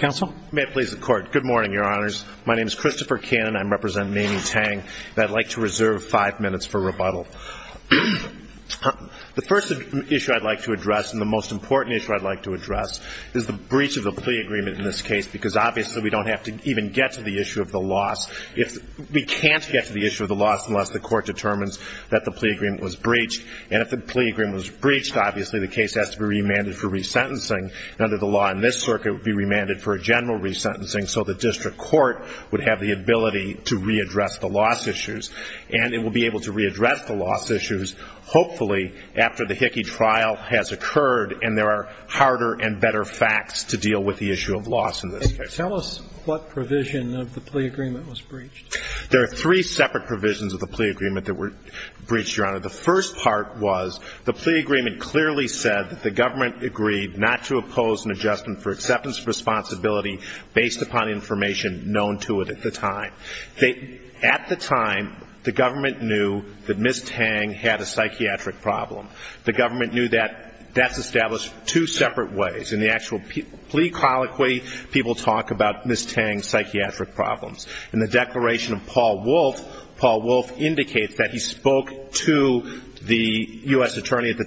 and I'd like to reserve five minutes for rebuttal. The first issue I'd like to address and the most important issue I'd like to address is the breach of the plea agreement in this case, because obviously we don't have to even get to the issue of the loss. We can't get to the issue of the loss unless the court determines that the plea agreement was breached, and if the plea agreement was breached, obviously the case has to be remanded for resentencing, and under the law in this circuit, it would be remanded for general resentencing so the district court would have the ability to readdress the loss issues, and it will be able to readdress the loss issues, hopefully, after the Hickey trial has occurred and there are harder and better facts to deal with the issue of loss in this case. Tell us what provision of the plea agreement was breached. There are three separate provisions of the plea agreement that were breached, Your Honor. The first part was the plea agreement clearly said that the government agreed not to oppose an adjustment for acceptance of responsibility based upon information known to it at the time. At the time, the government knew that Ms. Tang had a psychiatric problem. The government knew that that's established two separate ways. In the actual plea colloquy, people talk about Ms. Tang's psychiatric problems. In the declaration of Paul Wolfe, Paul Wolfe indicates that he spoke to the U.S. Did the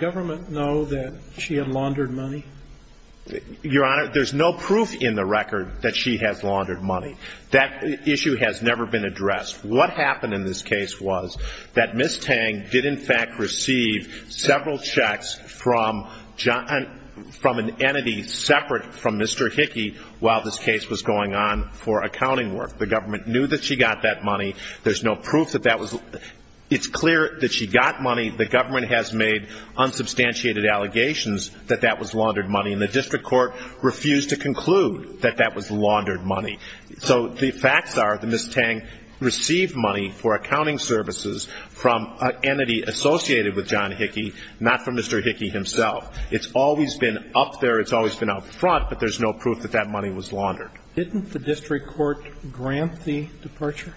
government know that she had laundered money? Your Honor, there's no proof in the record that she has laundered money. That issue has never been addressed. What happened in this case was that Ms. Tang did in fact receive several checks from an entity separate from Mr. Hickey while this case was going on for accounting work. The government knew that she got that money. There's no proof that that was laundered. It's clear that she got money. The government has made unsubstantiated allegations that that was laundered money, and the district court refused to conclude that that was laundered money. So the facts are that Ms. Tang received money for accounting services from an entity associated with John Hickey, not from Mr. Hickey himself. It's always been up there. It's always been up front, but there's no proof that that money was laundered. Didn't the district court grant the departure?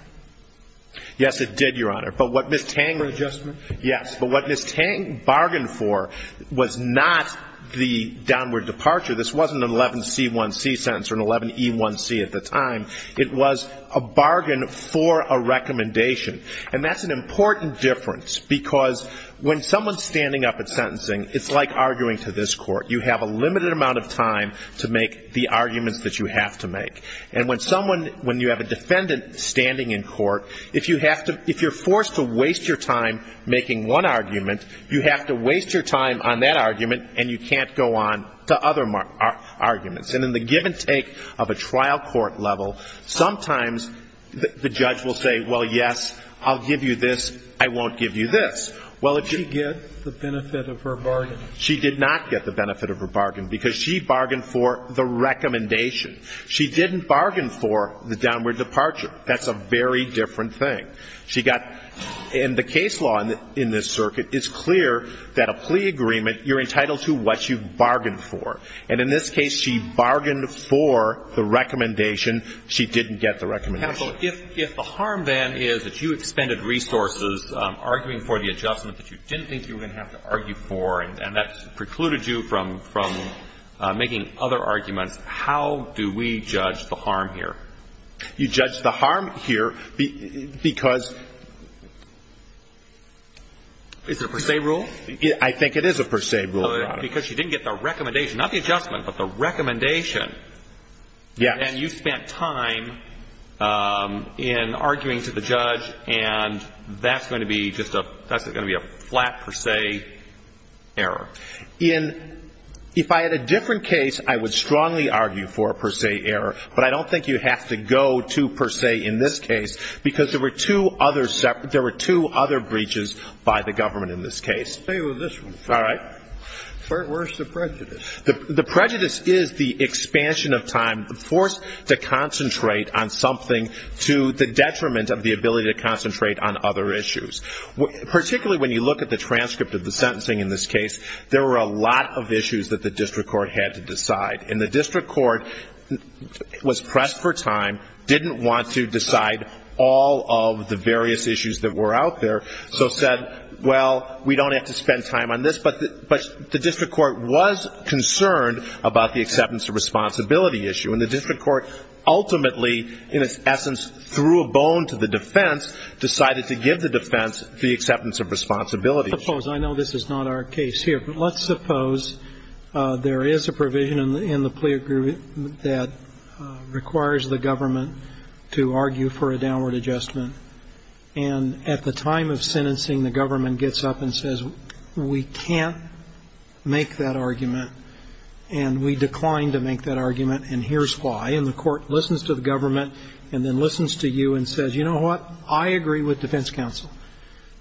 Yes, it did, Your Honor. But what Ms. Tang Adjustment? Yes. But what Ms. Tang bargained for was not the downward departure. This wasn't an 11C1C sentence or an 11E1C at the time. It was a bargain for a recommendation. And that's an important difference because when someone's standing up at sentencing, it's like arguing to this court. You have a limited amount of time to make the arguments that you have to make. And when someone, when you have a defendant standing in court, if you have to, if you're forced to waste your time making one argument, you have to waste your time on that argument, and you can't go on to other arguments. And in the give and take of a trial court level, sometimes the judge will say, well, yes, I'll give you this. I won't give you this. Did she get the benefit of her bargain? She did not get the benefit of her bargain because she bargained for the recommendation. She didn't bargain for the downward departure. That's a very different thing. She got – and the case law in this circuit is clear that a plea agreement, you're entitled to what you bargained for. And in this case, she bargained for the recommendation. She didn't get the recommendation. If the harm, then, is that you expended resources arguing for the adjustment that you didn't think you were going to have to argue for, and that precluded you from making other arguments, how do we judge the harm here? You judge the harm here because – Is it a per se rule? I think it is a per se rule. Because she didn't get the recommendation, not the adjustment, but the recommendation. Yes. And you spent time in arguing to the judge, and that's going to be just a – that's going to be a flat per se error. In – if I had a different case, I would strongly argue for a per se error. But I don't think you have to go to per se in this case because there were two other separate – there were two other breaches by the government in this case. I'll tell you about this one. All right. Where's the prejudice? The prejudice is the expansion of time forced to concentrate on something to the detriment of the ability to concentrate on other issues. Particularly when you look at the transcript of the sentencing in this case, there were a lot of issues that the district court had to decide. And the district court was pressed for time, didn't want to decide all of the various issues that were out there, so said, well, we don't have to spend time on this. But the district court was concerned about the acceptance of responsibility issue. And the district court ultimately, in its essence, threw a bone to the defense, decided to give the defense the acceptance of responsibility issue. I know this is not our case here, but let's suppose there is a provision in the plea agreement that requires the government to argue for a downward adjustment. And at the time of sentencing, the government gets up and says, we can't make that argument, and we declined to make that argument, and here's why. And the court listens to the government and then listens to you and says, you know what, I agree with defense counsel.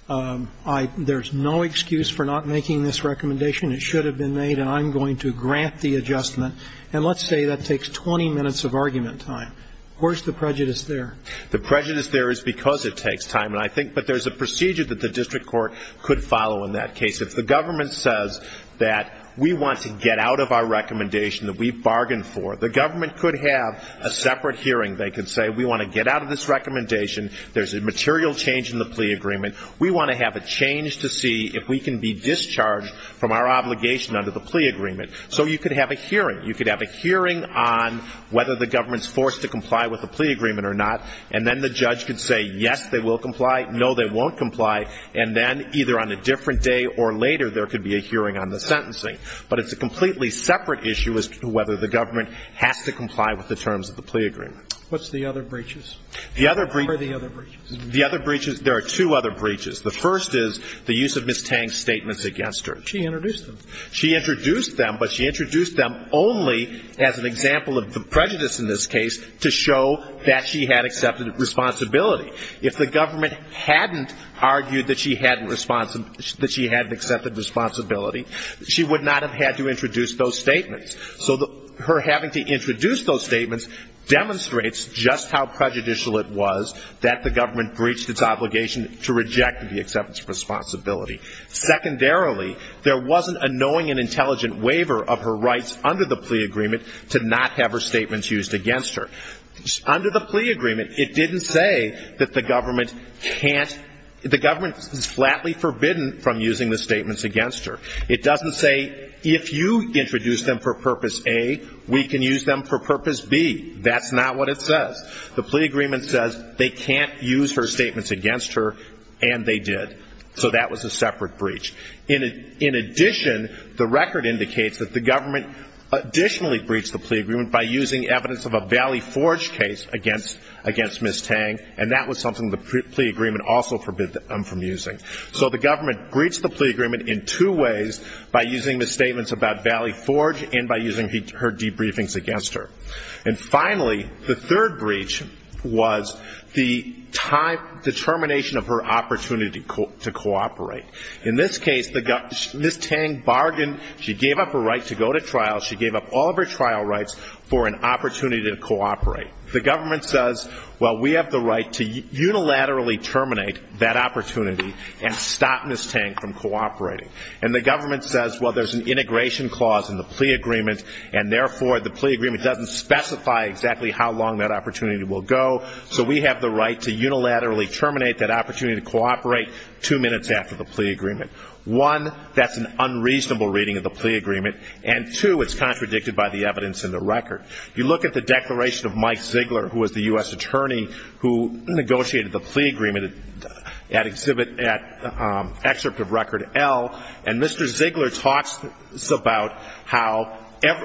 There's no excuse for not making this recommendation. It should have been made, and I'm going to grant the adjustment. And let's say that takes 20 minutes of argument time. Where's the prejudice there? The prejudice there is because it takes time. But there's a procedure that the district court could follow in that case. If the government says that we want to get out of our recommendation that we bargained for, the government could have a separate hearing. They could say, we want to get out of this recommendation. There's a material change in the plea agreement. We want to have a change to see if we can be discharged from our obligation under the plea agreement. So you could have a hearing. There's a hearing on whether the government's forced to comply with the plea agreement or not, and then the judge could say, yes, they will comply, no, they won't comply, and then either on a different day or later, there could be a hearing on the sentencing. But it's a completely separate issue as to whether the government has to comply with the terms of the plea agreement. What's the other breaches? The other breaches. What are the other breaches? The other breaches, there are two other breaches. The first is the use of Ms. Tang's statements against her. She introduced them. She introduced them, but she introduced them only as an example of the prejudice in this case to show that she had accepted responsibility. If the government hadn't argued that she hadn't accepted responsibility, she would not have had to introduce those statements. So her having to introduce those statements demonstrates just how prejudicial it was that the government breached its obligation to reject the acceptance of responsibility. Secondarily, there wasn't a knowing and intelligent waiver of her rights under the plea agreement to not have her statements used against her. Under the plea agreement, it didn't say that the government can't, the government is flatly forbidden from using the statements against her. It doesn't say if you introduce them for purpose A, we can use them for purpose B. That's not what it says. The plea agreement says they can't use her statements against her, and they did. So that was a separate breach. In addition, the record indicates that the government additionally breached the plea agreement by using evidence of a Valley Forge case against Ms. Tang, and that was something the plea agreement also forbade them from using. So the government breached the plea agreement in two ways, by using the statements about Valley Forge and by using her debriefings against her. And finally, the third breach was the termination of her opportunity to cooperate. In this case, Ms. Tang bargained, she gave up her right to go to trial, she gave up all of her trial rights for an opportunity to cooperate. The government says, well, we have the right to unilaterally terminate that opportunity and stop Ms. Tang from cooperating. And the government says, well, there's an integration clause in the plea agreement, and therefore the plea agreement doesn't specify exactly how long that opportunity will go, so we have the right to unilaterally terminate that opportunity to cooperate two minutes after the plea agreement. One, that's an unreasonable reading of the plea agreement, and two, it's contradicted by the evidence in the record. You look at the declaration of Mike Ziegler, who was the U.S. attorney who negotiated the plea agreement at Excerpt of Record L, and Mr. Ziegler talks about how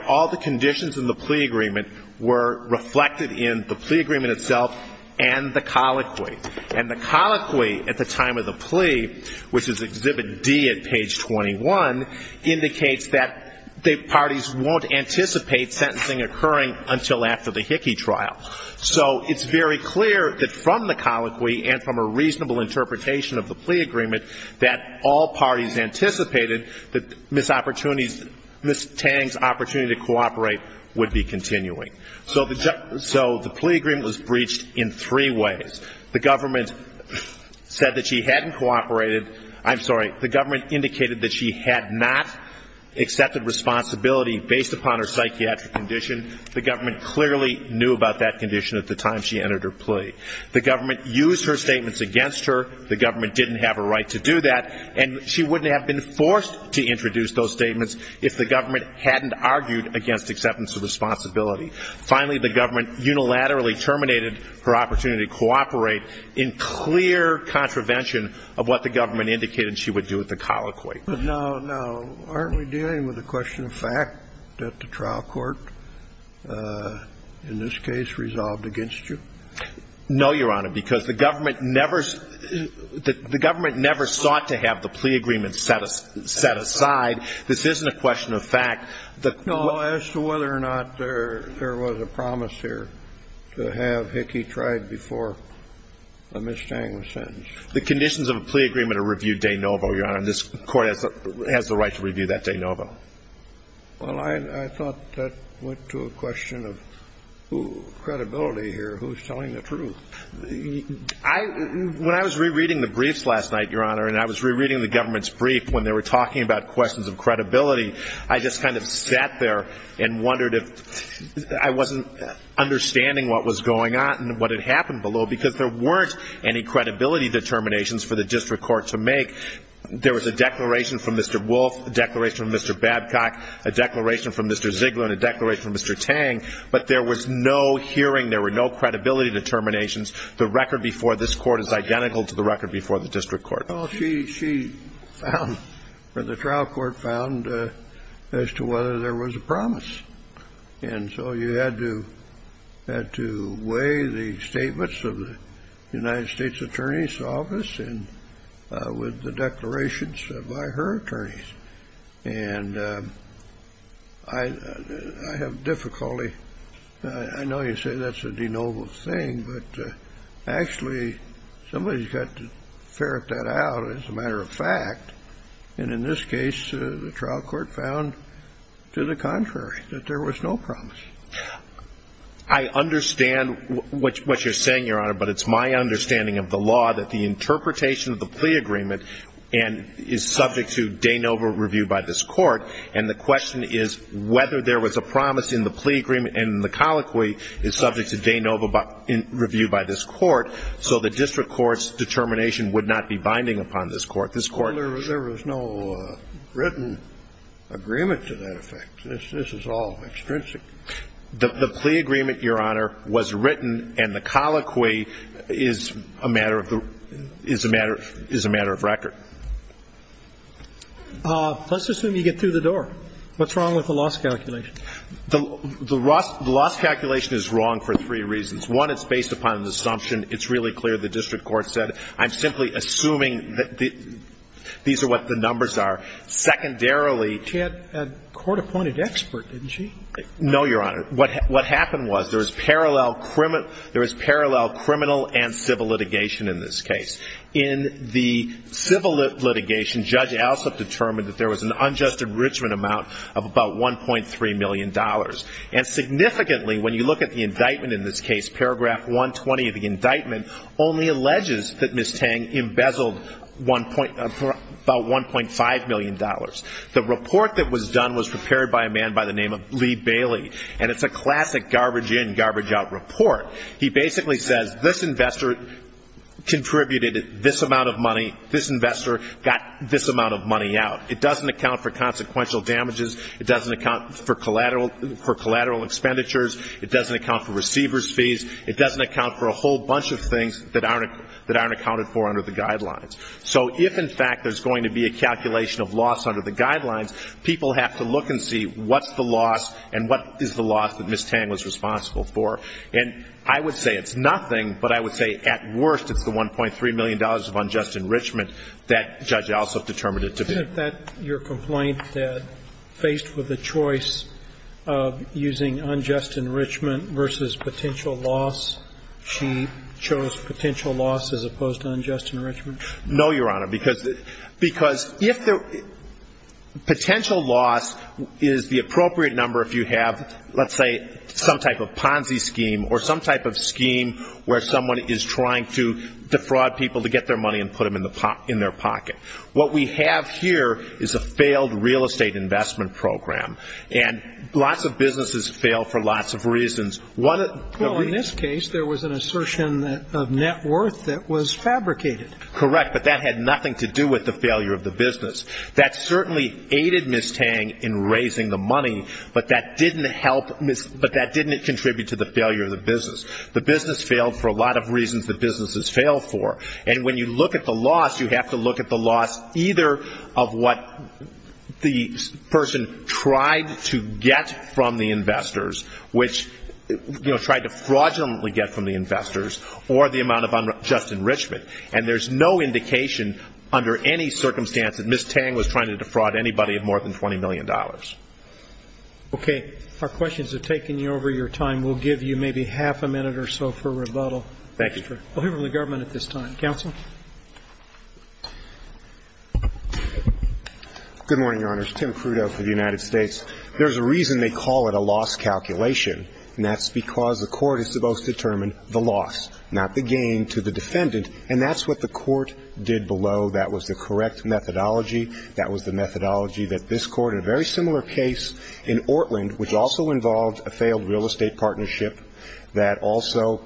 all the conditions in the plea agreement were reflected in the plea agreement itself and the colloquy. And the colloquy at the time of the plea, which is Exhibit D at page 21, indicates that the parties won't anticipate sentencing occurring until after the Hickey trial. So it's very clear that from the colloquy and from a reasonable interpretation of the plea agreement that all parties anticipated that Ms. Tang's opportunity to cooperate would be continuing. So the plea agreement was breached in three ways. The government said that she hadn't cooperated. I'm sorry, the government indicated that she had not accepted responsibility based upon her psychiatric condition. The government clearly knew about that condition at the time she entered her plea. The government used her statements against her. The government didn't have a right to do that, and she wouldn't have been forced to introduce those statements if the government hadn't argued against acceptance of responsibility. Finally, the government unilaterally terminated her opportunity to cooperate in clear contravention of what the government indicated she would do at the colloquy. No, no. Aren't we dealing with the question of fact that the trial court in this case resolved against you? No, Your Honor, because the government never – the government never sought to have the plea agreement set aside. This isn't a question of fact. No, as to whether or not there was a promise here to have Hickey tried before Ms. Tang was sentenced. The conditions of a plea agreement are reviewed de novo, Your Honor, and this Court has the right to review that de novo. Well, I thought that went to a question of credibility here, who's telling the truth. When I was rereading the briefs last night, Your Honor, and I was rereading the government's brief when they were talking about questions of credibility, I just kind of sat there and wondered if – I wasn't understanding what was going on because there weren't any credibility determinations for the district court to make. There was a declaration from Mr. Wolf, a declaration from Mr. Babcock, a declaration from Mr. Ziegler, and a declaration from Mr. Tang, but there was no hearing. There were no credibility determinations. The record before this Court is identical to the record before the district court. Well, she found, or the trial court found, as to whether there was a promise. And so you had to weigh the statements of the United States Attorney's Office with the declarations by her attorneys. And I have difficulty – I know you say that's a de novo thing, but actually somebody's got to ferret that out as a matter of fact. And in this case, the trial court found to the contrary, that there was no promise. I understand what you're saying, Your Honor, but it's my understanding of the law that the interpretation of the plea agreement is subject to de novo review by this court, and the question is whether there was a promise in the plea agreement and the colloquy is subject to de novo review by this court, so the district court's determination would not be binding upon this court. Well, there was no written agreement to that effect. This is all extrinsic. The plea agreement, Your Honor, was written, and the colloquy is a matter of record. Let's assume you get through the door. What's wrong with the loss calculation? The loss calculation is wrong for three reasons. One, it's based upon an assumption. It's really clear the district court said, I'm simply assuming that these are what the numbers are. Secondarily, she had a court-appointed expert, didn't she? No, Your Honor. What happened was there was parallel criminal and civil litigation in this case. In the civil litigation, Judge Alsup determined that there was an unjust enrichment amount of about $1.3 million. And significantly, when you look at the indictment in this case, paragraph 120 of the indictment only alleges that Ms. Tang embezzled about $1.5 million. The report that was done was prepared by a man by the name of Lee Bailey, and it's a classic garbage in, garbage out report. He basically says this investor contributed this amount of money, this investor got this amount of money out. It doesn't account for consequential damages. It doesn't account for collateral expenditures. It doesn't account for receiver's fees. It doesn't account for a whole bunch of things that aren't accounted for under the guidelines. So if, in fact, there's going to be a calculation of loss under the guidelines, people have to look and see what's the loss and what is the loss that Ms. Tang was responsible for. And I would say it's nothing, but I would say at worst it's the $1.3 million of unjust enrichment that Judge Alsup determined it to be. Sotomayor, isn't that your complaint that, faced with the choice of using unjust enrichment versus potential loss, she chose potential loss as opposed to unjust enrichment? No, Your Honor, because if the potential loss is the appropriate number if you have, let's say, some type of Ponzi scheme or some type of scheme where someone is trying to defraud people to get their money and put them in their pocket. What we have here is a failed real estate investment program, and lots of businesses fail for lots of reasons. Well, in this case, there was an assertion of net worth that was fabricated. Correct, but that had nothing to do with the failure of the business. That certainly aided Ms. Tang in raising the money, but that didn't contribute to the failure of the business. The business failed for a lot of reasons that businesses fail for. And when you look at the loss, you have to look at the loss either of what the person tried to get from the investors, which, you know, tried to fraudulently get from the investors, or the amount of unjust enrichment. And there's no indication under any circumstance that Ms. Tang was trying to defraud anybody of more than $20 million. Okay. Our questions have taken you over your time. We'll give you maybe half a minute or so for rebuttal. Thank you. I'll hear from the government at this time. Counsel? Good morning, Your Honors. Tim Crudeau for the United States. There's a reason they call it a loss calculation, and that's because the court is supposed to determine the loss, not the gain, to the defendant. And that's what the court did below. That was the correct methodology. That was the methodology that this court in a very similar case in Ortland, which also involved a failed real estate partnership that also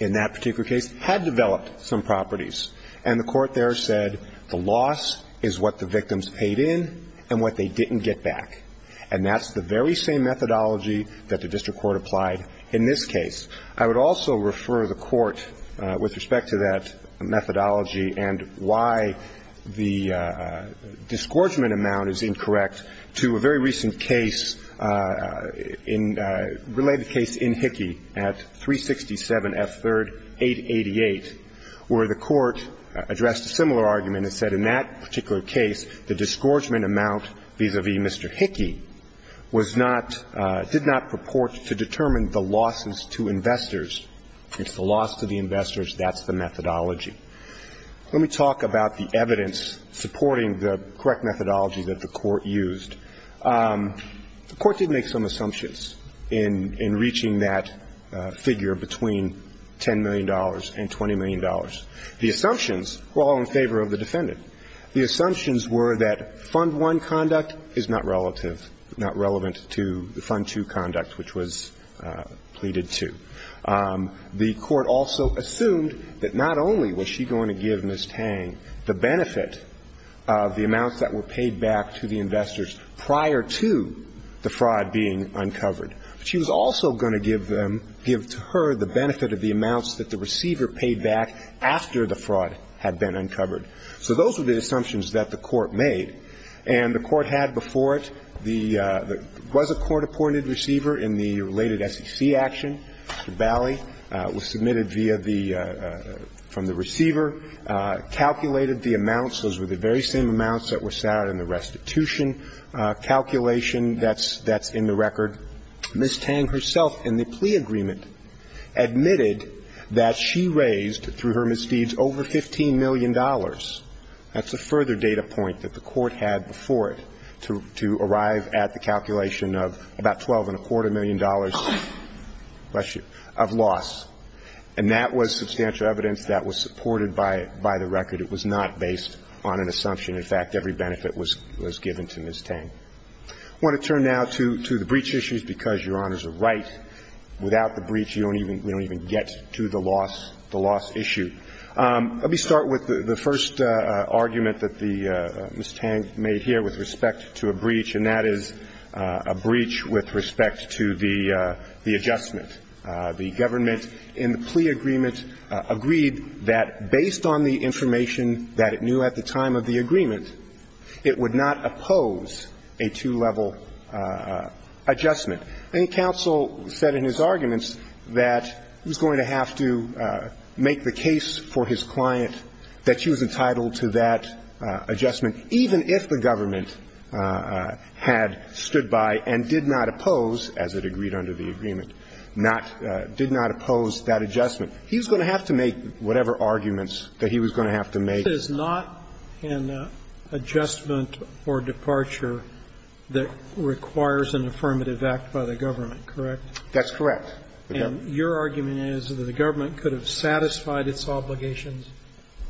in that particular case had developed some properties. And the court there said the loss is what the victims paid in and what they didn't get back. And that's the very same methodology that the district court applied in this case. I would also refer the court with respect to that methodology and why the disgorgement amount is incorrect to a very recent case in a related case in Hickey at 367 F. 3rd, 888, where the court addressed a similar argument and said in that particular case the disgorgement amount vis-a-vis Mr. Hickey was not, did not purport to determine the losses to investors. It's the loss to the investors. That's the methodology. Let me talk about the evidence supporting the correct methodology that the court used. The court did make some assumptions in reaching that figure between $10 million and $20 million. The assumptions were all in favor of the defendant. The assumptions were that Fund I conduct is not relative, not relevant to Fund II conduct, which was pleaded to. The court also assumed that not only was she going to give Ms. Tang the benefit of the amounts that were paid back to the investors prior to the fraud being uncovered, but she was also going to give them, give to her the benefit of the amounts that the receiver paid back after the fraud had been uncovered. So those were the assumptions that the court made. And the court had before it the, there was a court-appointed receiver in the related to the SEC action. The bally was submitted via the, from the receiver, calculated the amounts. Those were the very same amounts that were sat in the restitution calculation that's, that's in the record. Ms. Tang herself in the plea agreement admitted that she raised, through her misdeeds, over $15 million. That's a further data point that the court had before it to, to arrive at the calculation of about $12.25 million of loss. And that was substantial evidence that was supported by, by the record. It was not based on an assumption. In fact, every benefit was, was given to Ms. Tang. I want to turn now to, to the breach issues, because Your Honors are right. Without the breach, you don't even, you don't even get to the loss, the loss issue. Let me start with the first argument that the, Ms. Tang made here with respect to a breach, and that is a breach with respect to the, the adjustment. The government in the plea agreement agreed that based on the information that it knew at the time of the agreement, it would not oppose a two-level adjustment. And counsel said in his arguments that he was going to have to make the case for his client that she was entitled to that adjustment, even if the government had stood by and did not oppose, as it agreed under the agreement, not, did not oppose that adjustment. He was going to have to make whatever arguments that he was going to have to make. Roberts. This is not an adjustment or departure that requires an affirmative act by the government, correct? That's correct. And your argument is that the government could have satisfied its obligations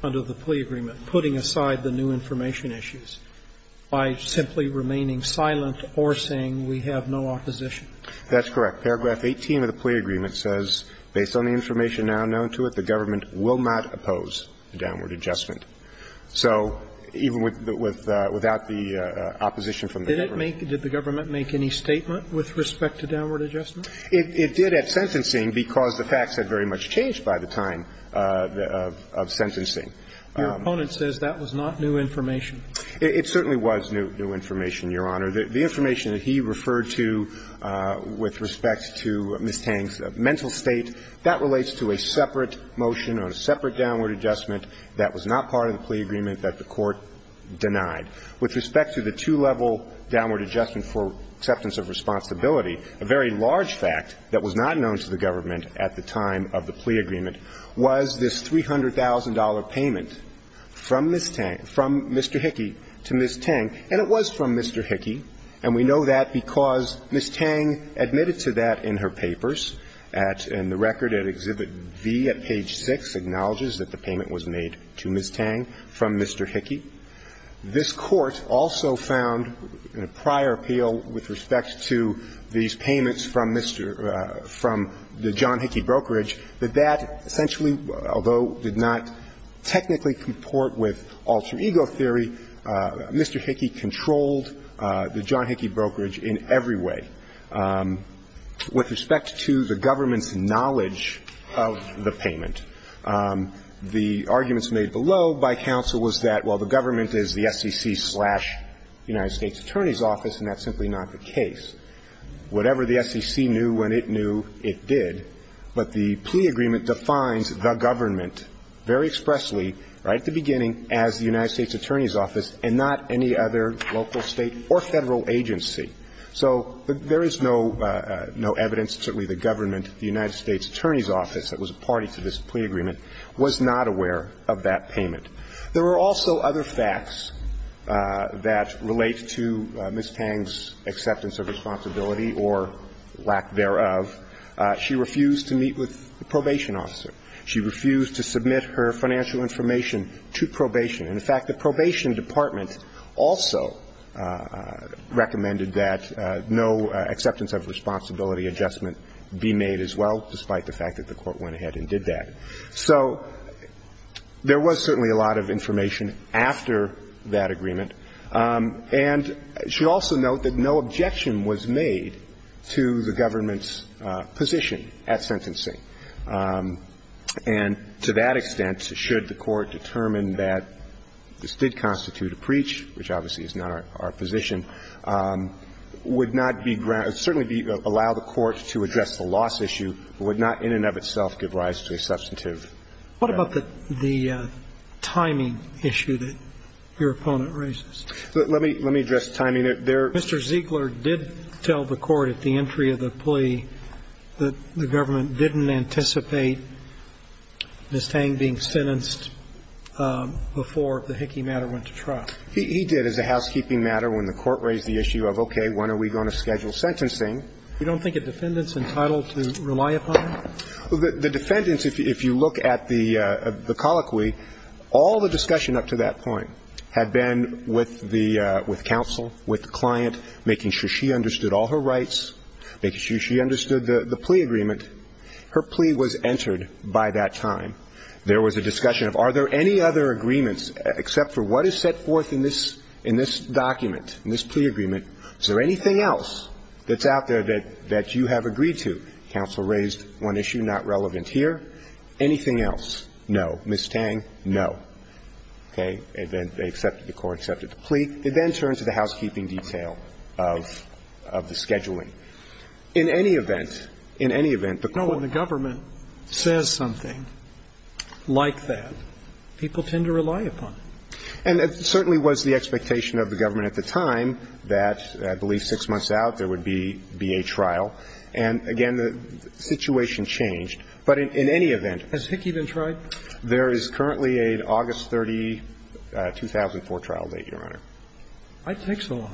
under the plea agreement, putting aside the new information issues by simply remaining silent or saying, we have no opposition. That's correct. Paragraph 18 of the plea agreement says, based on the information now known to it, the government will not oppose the downward adjustment. So even with, without the opposition from the government. Did it make, did the government make any statement with respect to downward adjustment? It did at sentencing because the facts had very much changed by the time of sentencing. Your opponent says that was not new information. It certainly was new information, Your Honor. The information that he referred to with respect to Ms. Tang's mental state, that relates to a separate motion or a separate downward adjustment that was not part of the plea agreement that the Court denied. With respect to the two-level downward adjustment for acceptance of responsibility, a very large fact that was not known to the government at the time of the plea agreement was this $300,000 payment from Ms. Tang, from Mr. Hickey to Ms. Tang. And it was from Mr. Hickey, and we know that because Ms. Tang admitted to that in her papers at, in the record at Exhibit V at page 6, acknowledges that the payment was made to Ms. Tang from Mr. Hickey. This Court also found, in a prior appeal with respect to the $300,000 payment for these payments from Mr. – from the John Hickey brokerage, that that essentially, although did not technically comport with alter ego theory, Mr. Hickey controlled the John Hickey brokerage in every way. With respect to the government's knowledge of the payment, the arguments made below by counsel was that, well, the government is the SEC-slash-United States Attorney's office, and that's simply not the case. Whatever the SEC knew when it knew, it did. But the plea agreement defines the government very expressly, right at the beginning, as the United States Attorney's office and not any other local, state or Federal agency. So there is no, no evidence that certainly the government, the United States Attorney's office that was a party to this plea agreement, was not aware of that payment. There were also other facts that relate to Ms. Pang's acceptance of responsibility or lack thereof. She refused to meet with the probation officer. She refused to submit her financial information to probation. And, in fact, the probation department also recommended that no acceptance of responsibility adjustment be made as well, despite the fact that the Court went ahead and did that. So there was certainly a lot of information after that agreement. And I should also note that no objection was made to the government's position at sentencing. And to that extent, should the Court determine that this did constitute a preach, which obviously is not our position, would not be granted – certainly allow the What about the timing issue that your opponent raises? Let me address timing. Mr. Ziegler did tell the Court at the entry of the plea that the government didn't anticipate Ms. Pang being sentenced before the Hickey matter went to trial. He did, as a housekeeping matter, when the Court raised the issue of, okay, when are we going to schedule sentencing. You don't think a defendant's entitled to rely upon that? The defendants, if you look at the colloquy, all the discussion up to that point had been with the – with counsel, with the client, making sure she understood all her rights, making sure she understood the plea agreement. Her plea was entered by that time. There was a discussion of are there any other agreements except for what is set forth in this document, in this plea agreement, is there anything else that's out there that you have agreed to? Counsel raised one issue, not relevant here. Anything else, no. Ms. Tang, no. Okay. And then they accepted – the Court accepted the plea. They then turned to the housekeeping detail of – of the scheduling. In any event – in any event, the Court – No, when the government says something like that, people tend to rely upon it. And it certainly was the expectation of the government at the time that, I believe six months out, there would be – be a trial. And, again, the situation changed. But in – in any event, Has Hickey been tried? There is currently an August 30, 2004 trial date, Your Honor. I think so.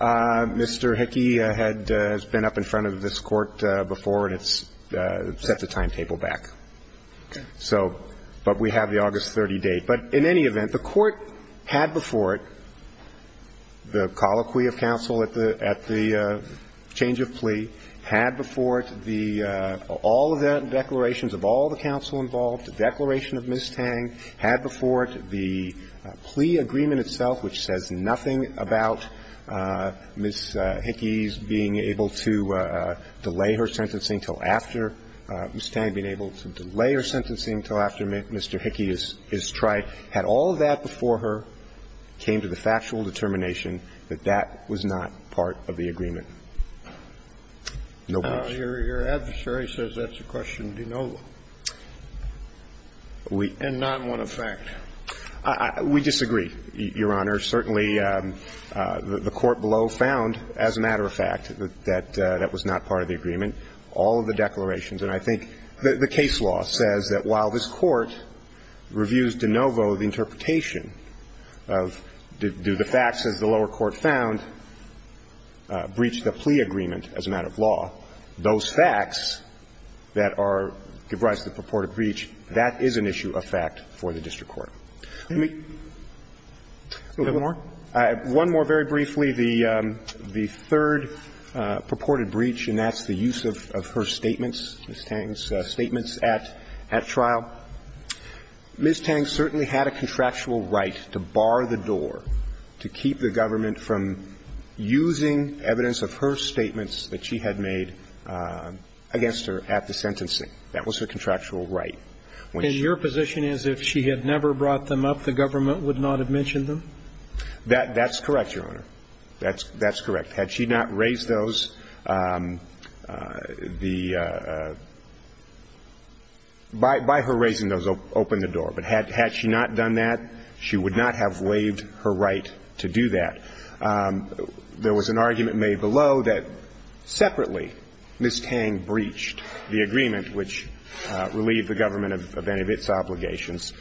Mr. Hickey had been up in front of this Court before, and it's set the timetable back. Okay. So – but we have the August 30 date. But in any event, the Court had before it the colloquy of counsel at the – at the change of plea, had before it the – all of the declarations of all the counsel involved, the declaration of Ms. Tang, had before it the plea agreement itself, which says nothing about Ms. Hickey's being able to delay her sentencing until after – Ms. Tang being able to delay her sentencing until after Mr. Hickey is tried, had all of that before her, came to the factual determination that that was not part of the agreement. No question. Your adversary says that's a question de novo. We – And not one of fact. We disagree, Your Honor. Certainly, the Court below found, as a matter of fact, that that was not part of the agreement, all of the declarations. And I think the case law says that while this Court reviews de novo the interpretation of do the facts, as the lower court found, breach the plea agreement as a matter of law, those facts that are – give rise to the purported breach, that is an issue of fact for the district court. Let me – One more? One more very briefly. The third purported breach, and that's the use of her statements, Ms. Tang's statements at trial, Ms. Tang certainly had a contractual right to bar the door, to keep the government from using evidence of her statements that she had made against her at the sentencing. That was her contractual right. In your position, as if she had never brought them up, the government would not have mentioned them? That's correct, Your Honor. That's correct. Had she not raised those, the – by her raising those, opened the door. But had she not done that, she would not have waived her right to do that. There was an argument made below that, separately, Ms. Tang breached the agreement, which relieved the government of any of its obligations.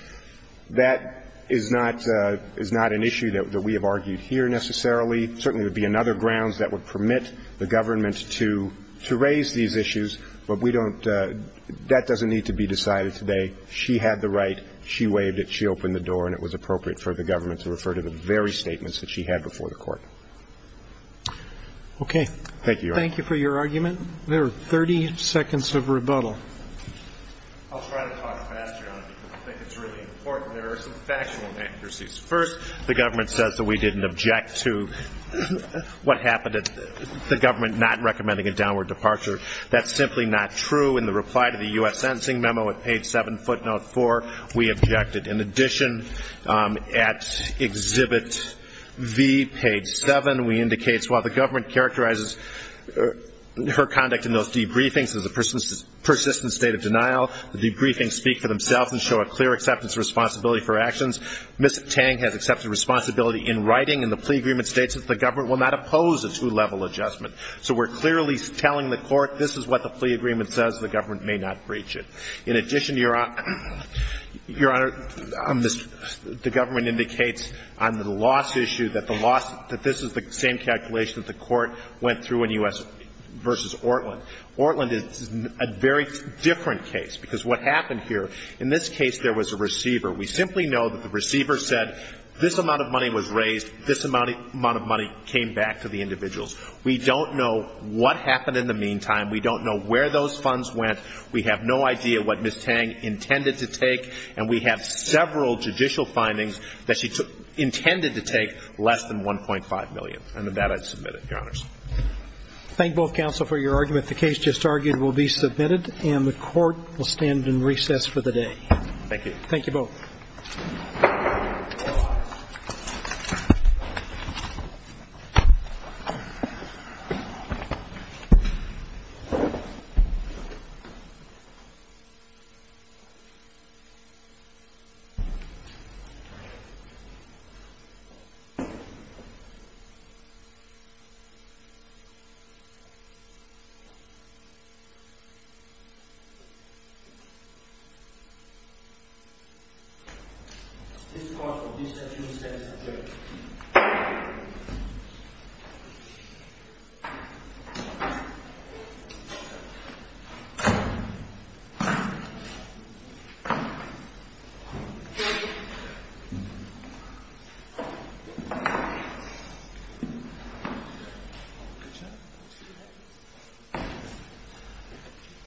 That is not – is not an issue that we have argued here, necessarily. Certainly, there would be another grounds that would permit the government to raise these issues, but we don't – that doesn't need to be decided today. She had the right. She waived it. She opened the door, and it was appropriate for the government to refer to the very statements that she had before the Court. Okay. Thank you, Your Honor. Thank you for your argument. There are 30 seconds of rebuttal. I'll try to talk faster, Your Honor, because I think it's really important. There are some factual inaccuracies. First, the government says that we didn't object to what happened – the government not recommending a downward departure. That's simply not true. In the reply to the U.S. Sentencing Memo at page 7, footnote 4, we objected. In addition, at Exhibit V, page 7, we indicate, while the government characterizes her conduct in those debriefings as a persistent state of denial, the debriefings speak for themselves and show a clear acceptance of responsibility for actions. Ms. Tang has accepted responsibility in writing, and the plea agreement states that the government will not oppose a two-level adjustment. So we're clearly telling the Court, this is what the plea agreement says. The government may not breach it. In addition, Your Honor, the government indicates on the loss issue that the loss – that this is the same calculation that the Court went through in U.S. v. Ortland. Ortland is a very different case, because what happened here – in this case, there was a receiver. We simply know that the receiver said, this amount of money was raised, this amount of money came back to the individuals. We don't know what happened in the meantime. We don't know where those funds went. We have no idea what Ms. Tang intended to take, and we have several judicial findings that she took – intended to take less than $1.5 million. And with that, I submit it, Your Honors. Roberts. Thank both counsel for your argument. The case just argued will be submitted, and the Court will stand in recess for the day. Thank you. Thank you both. This court will be set in recess. Thank you.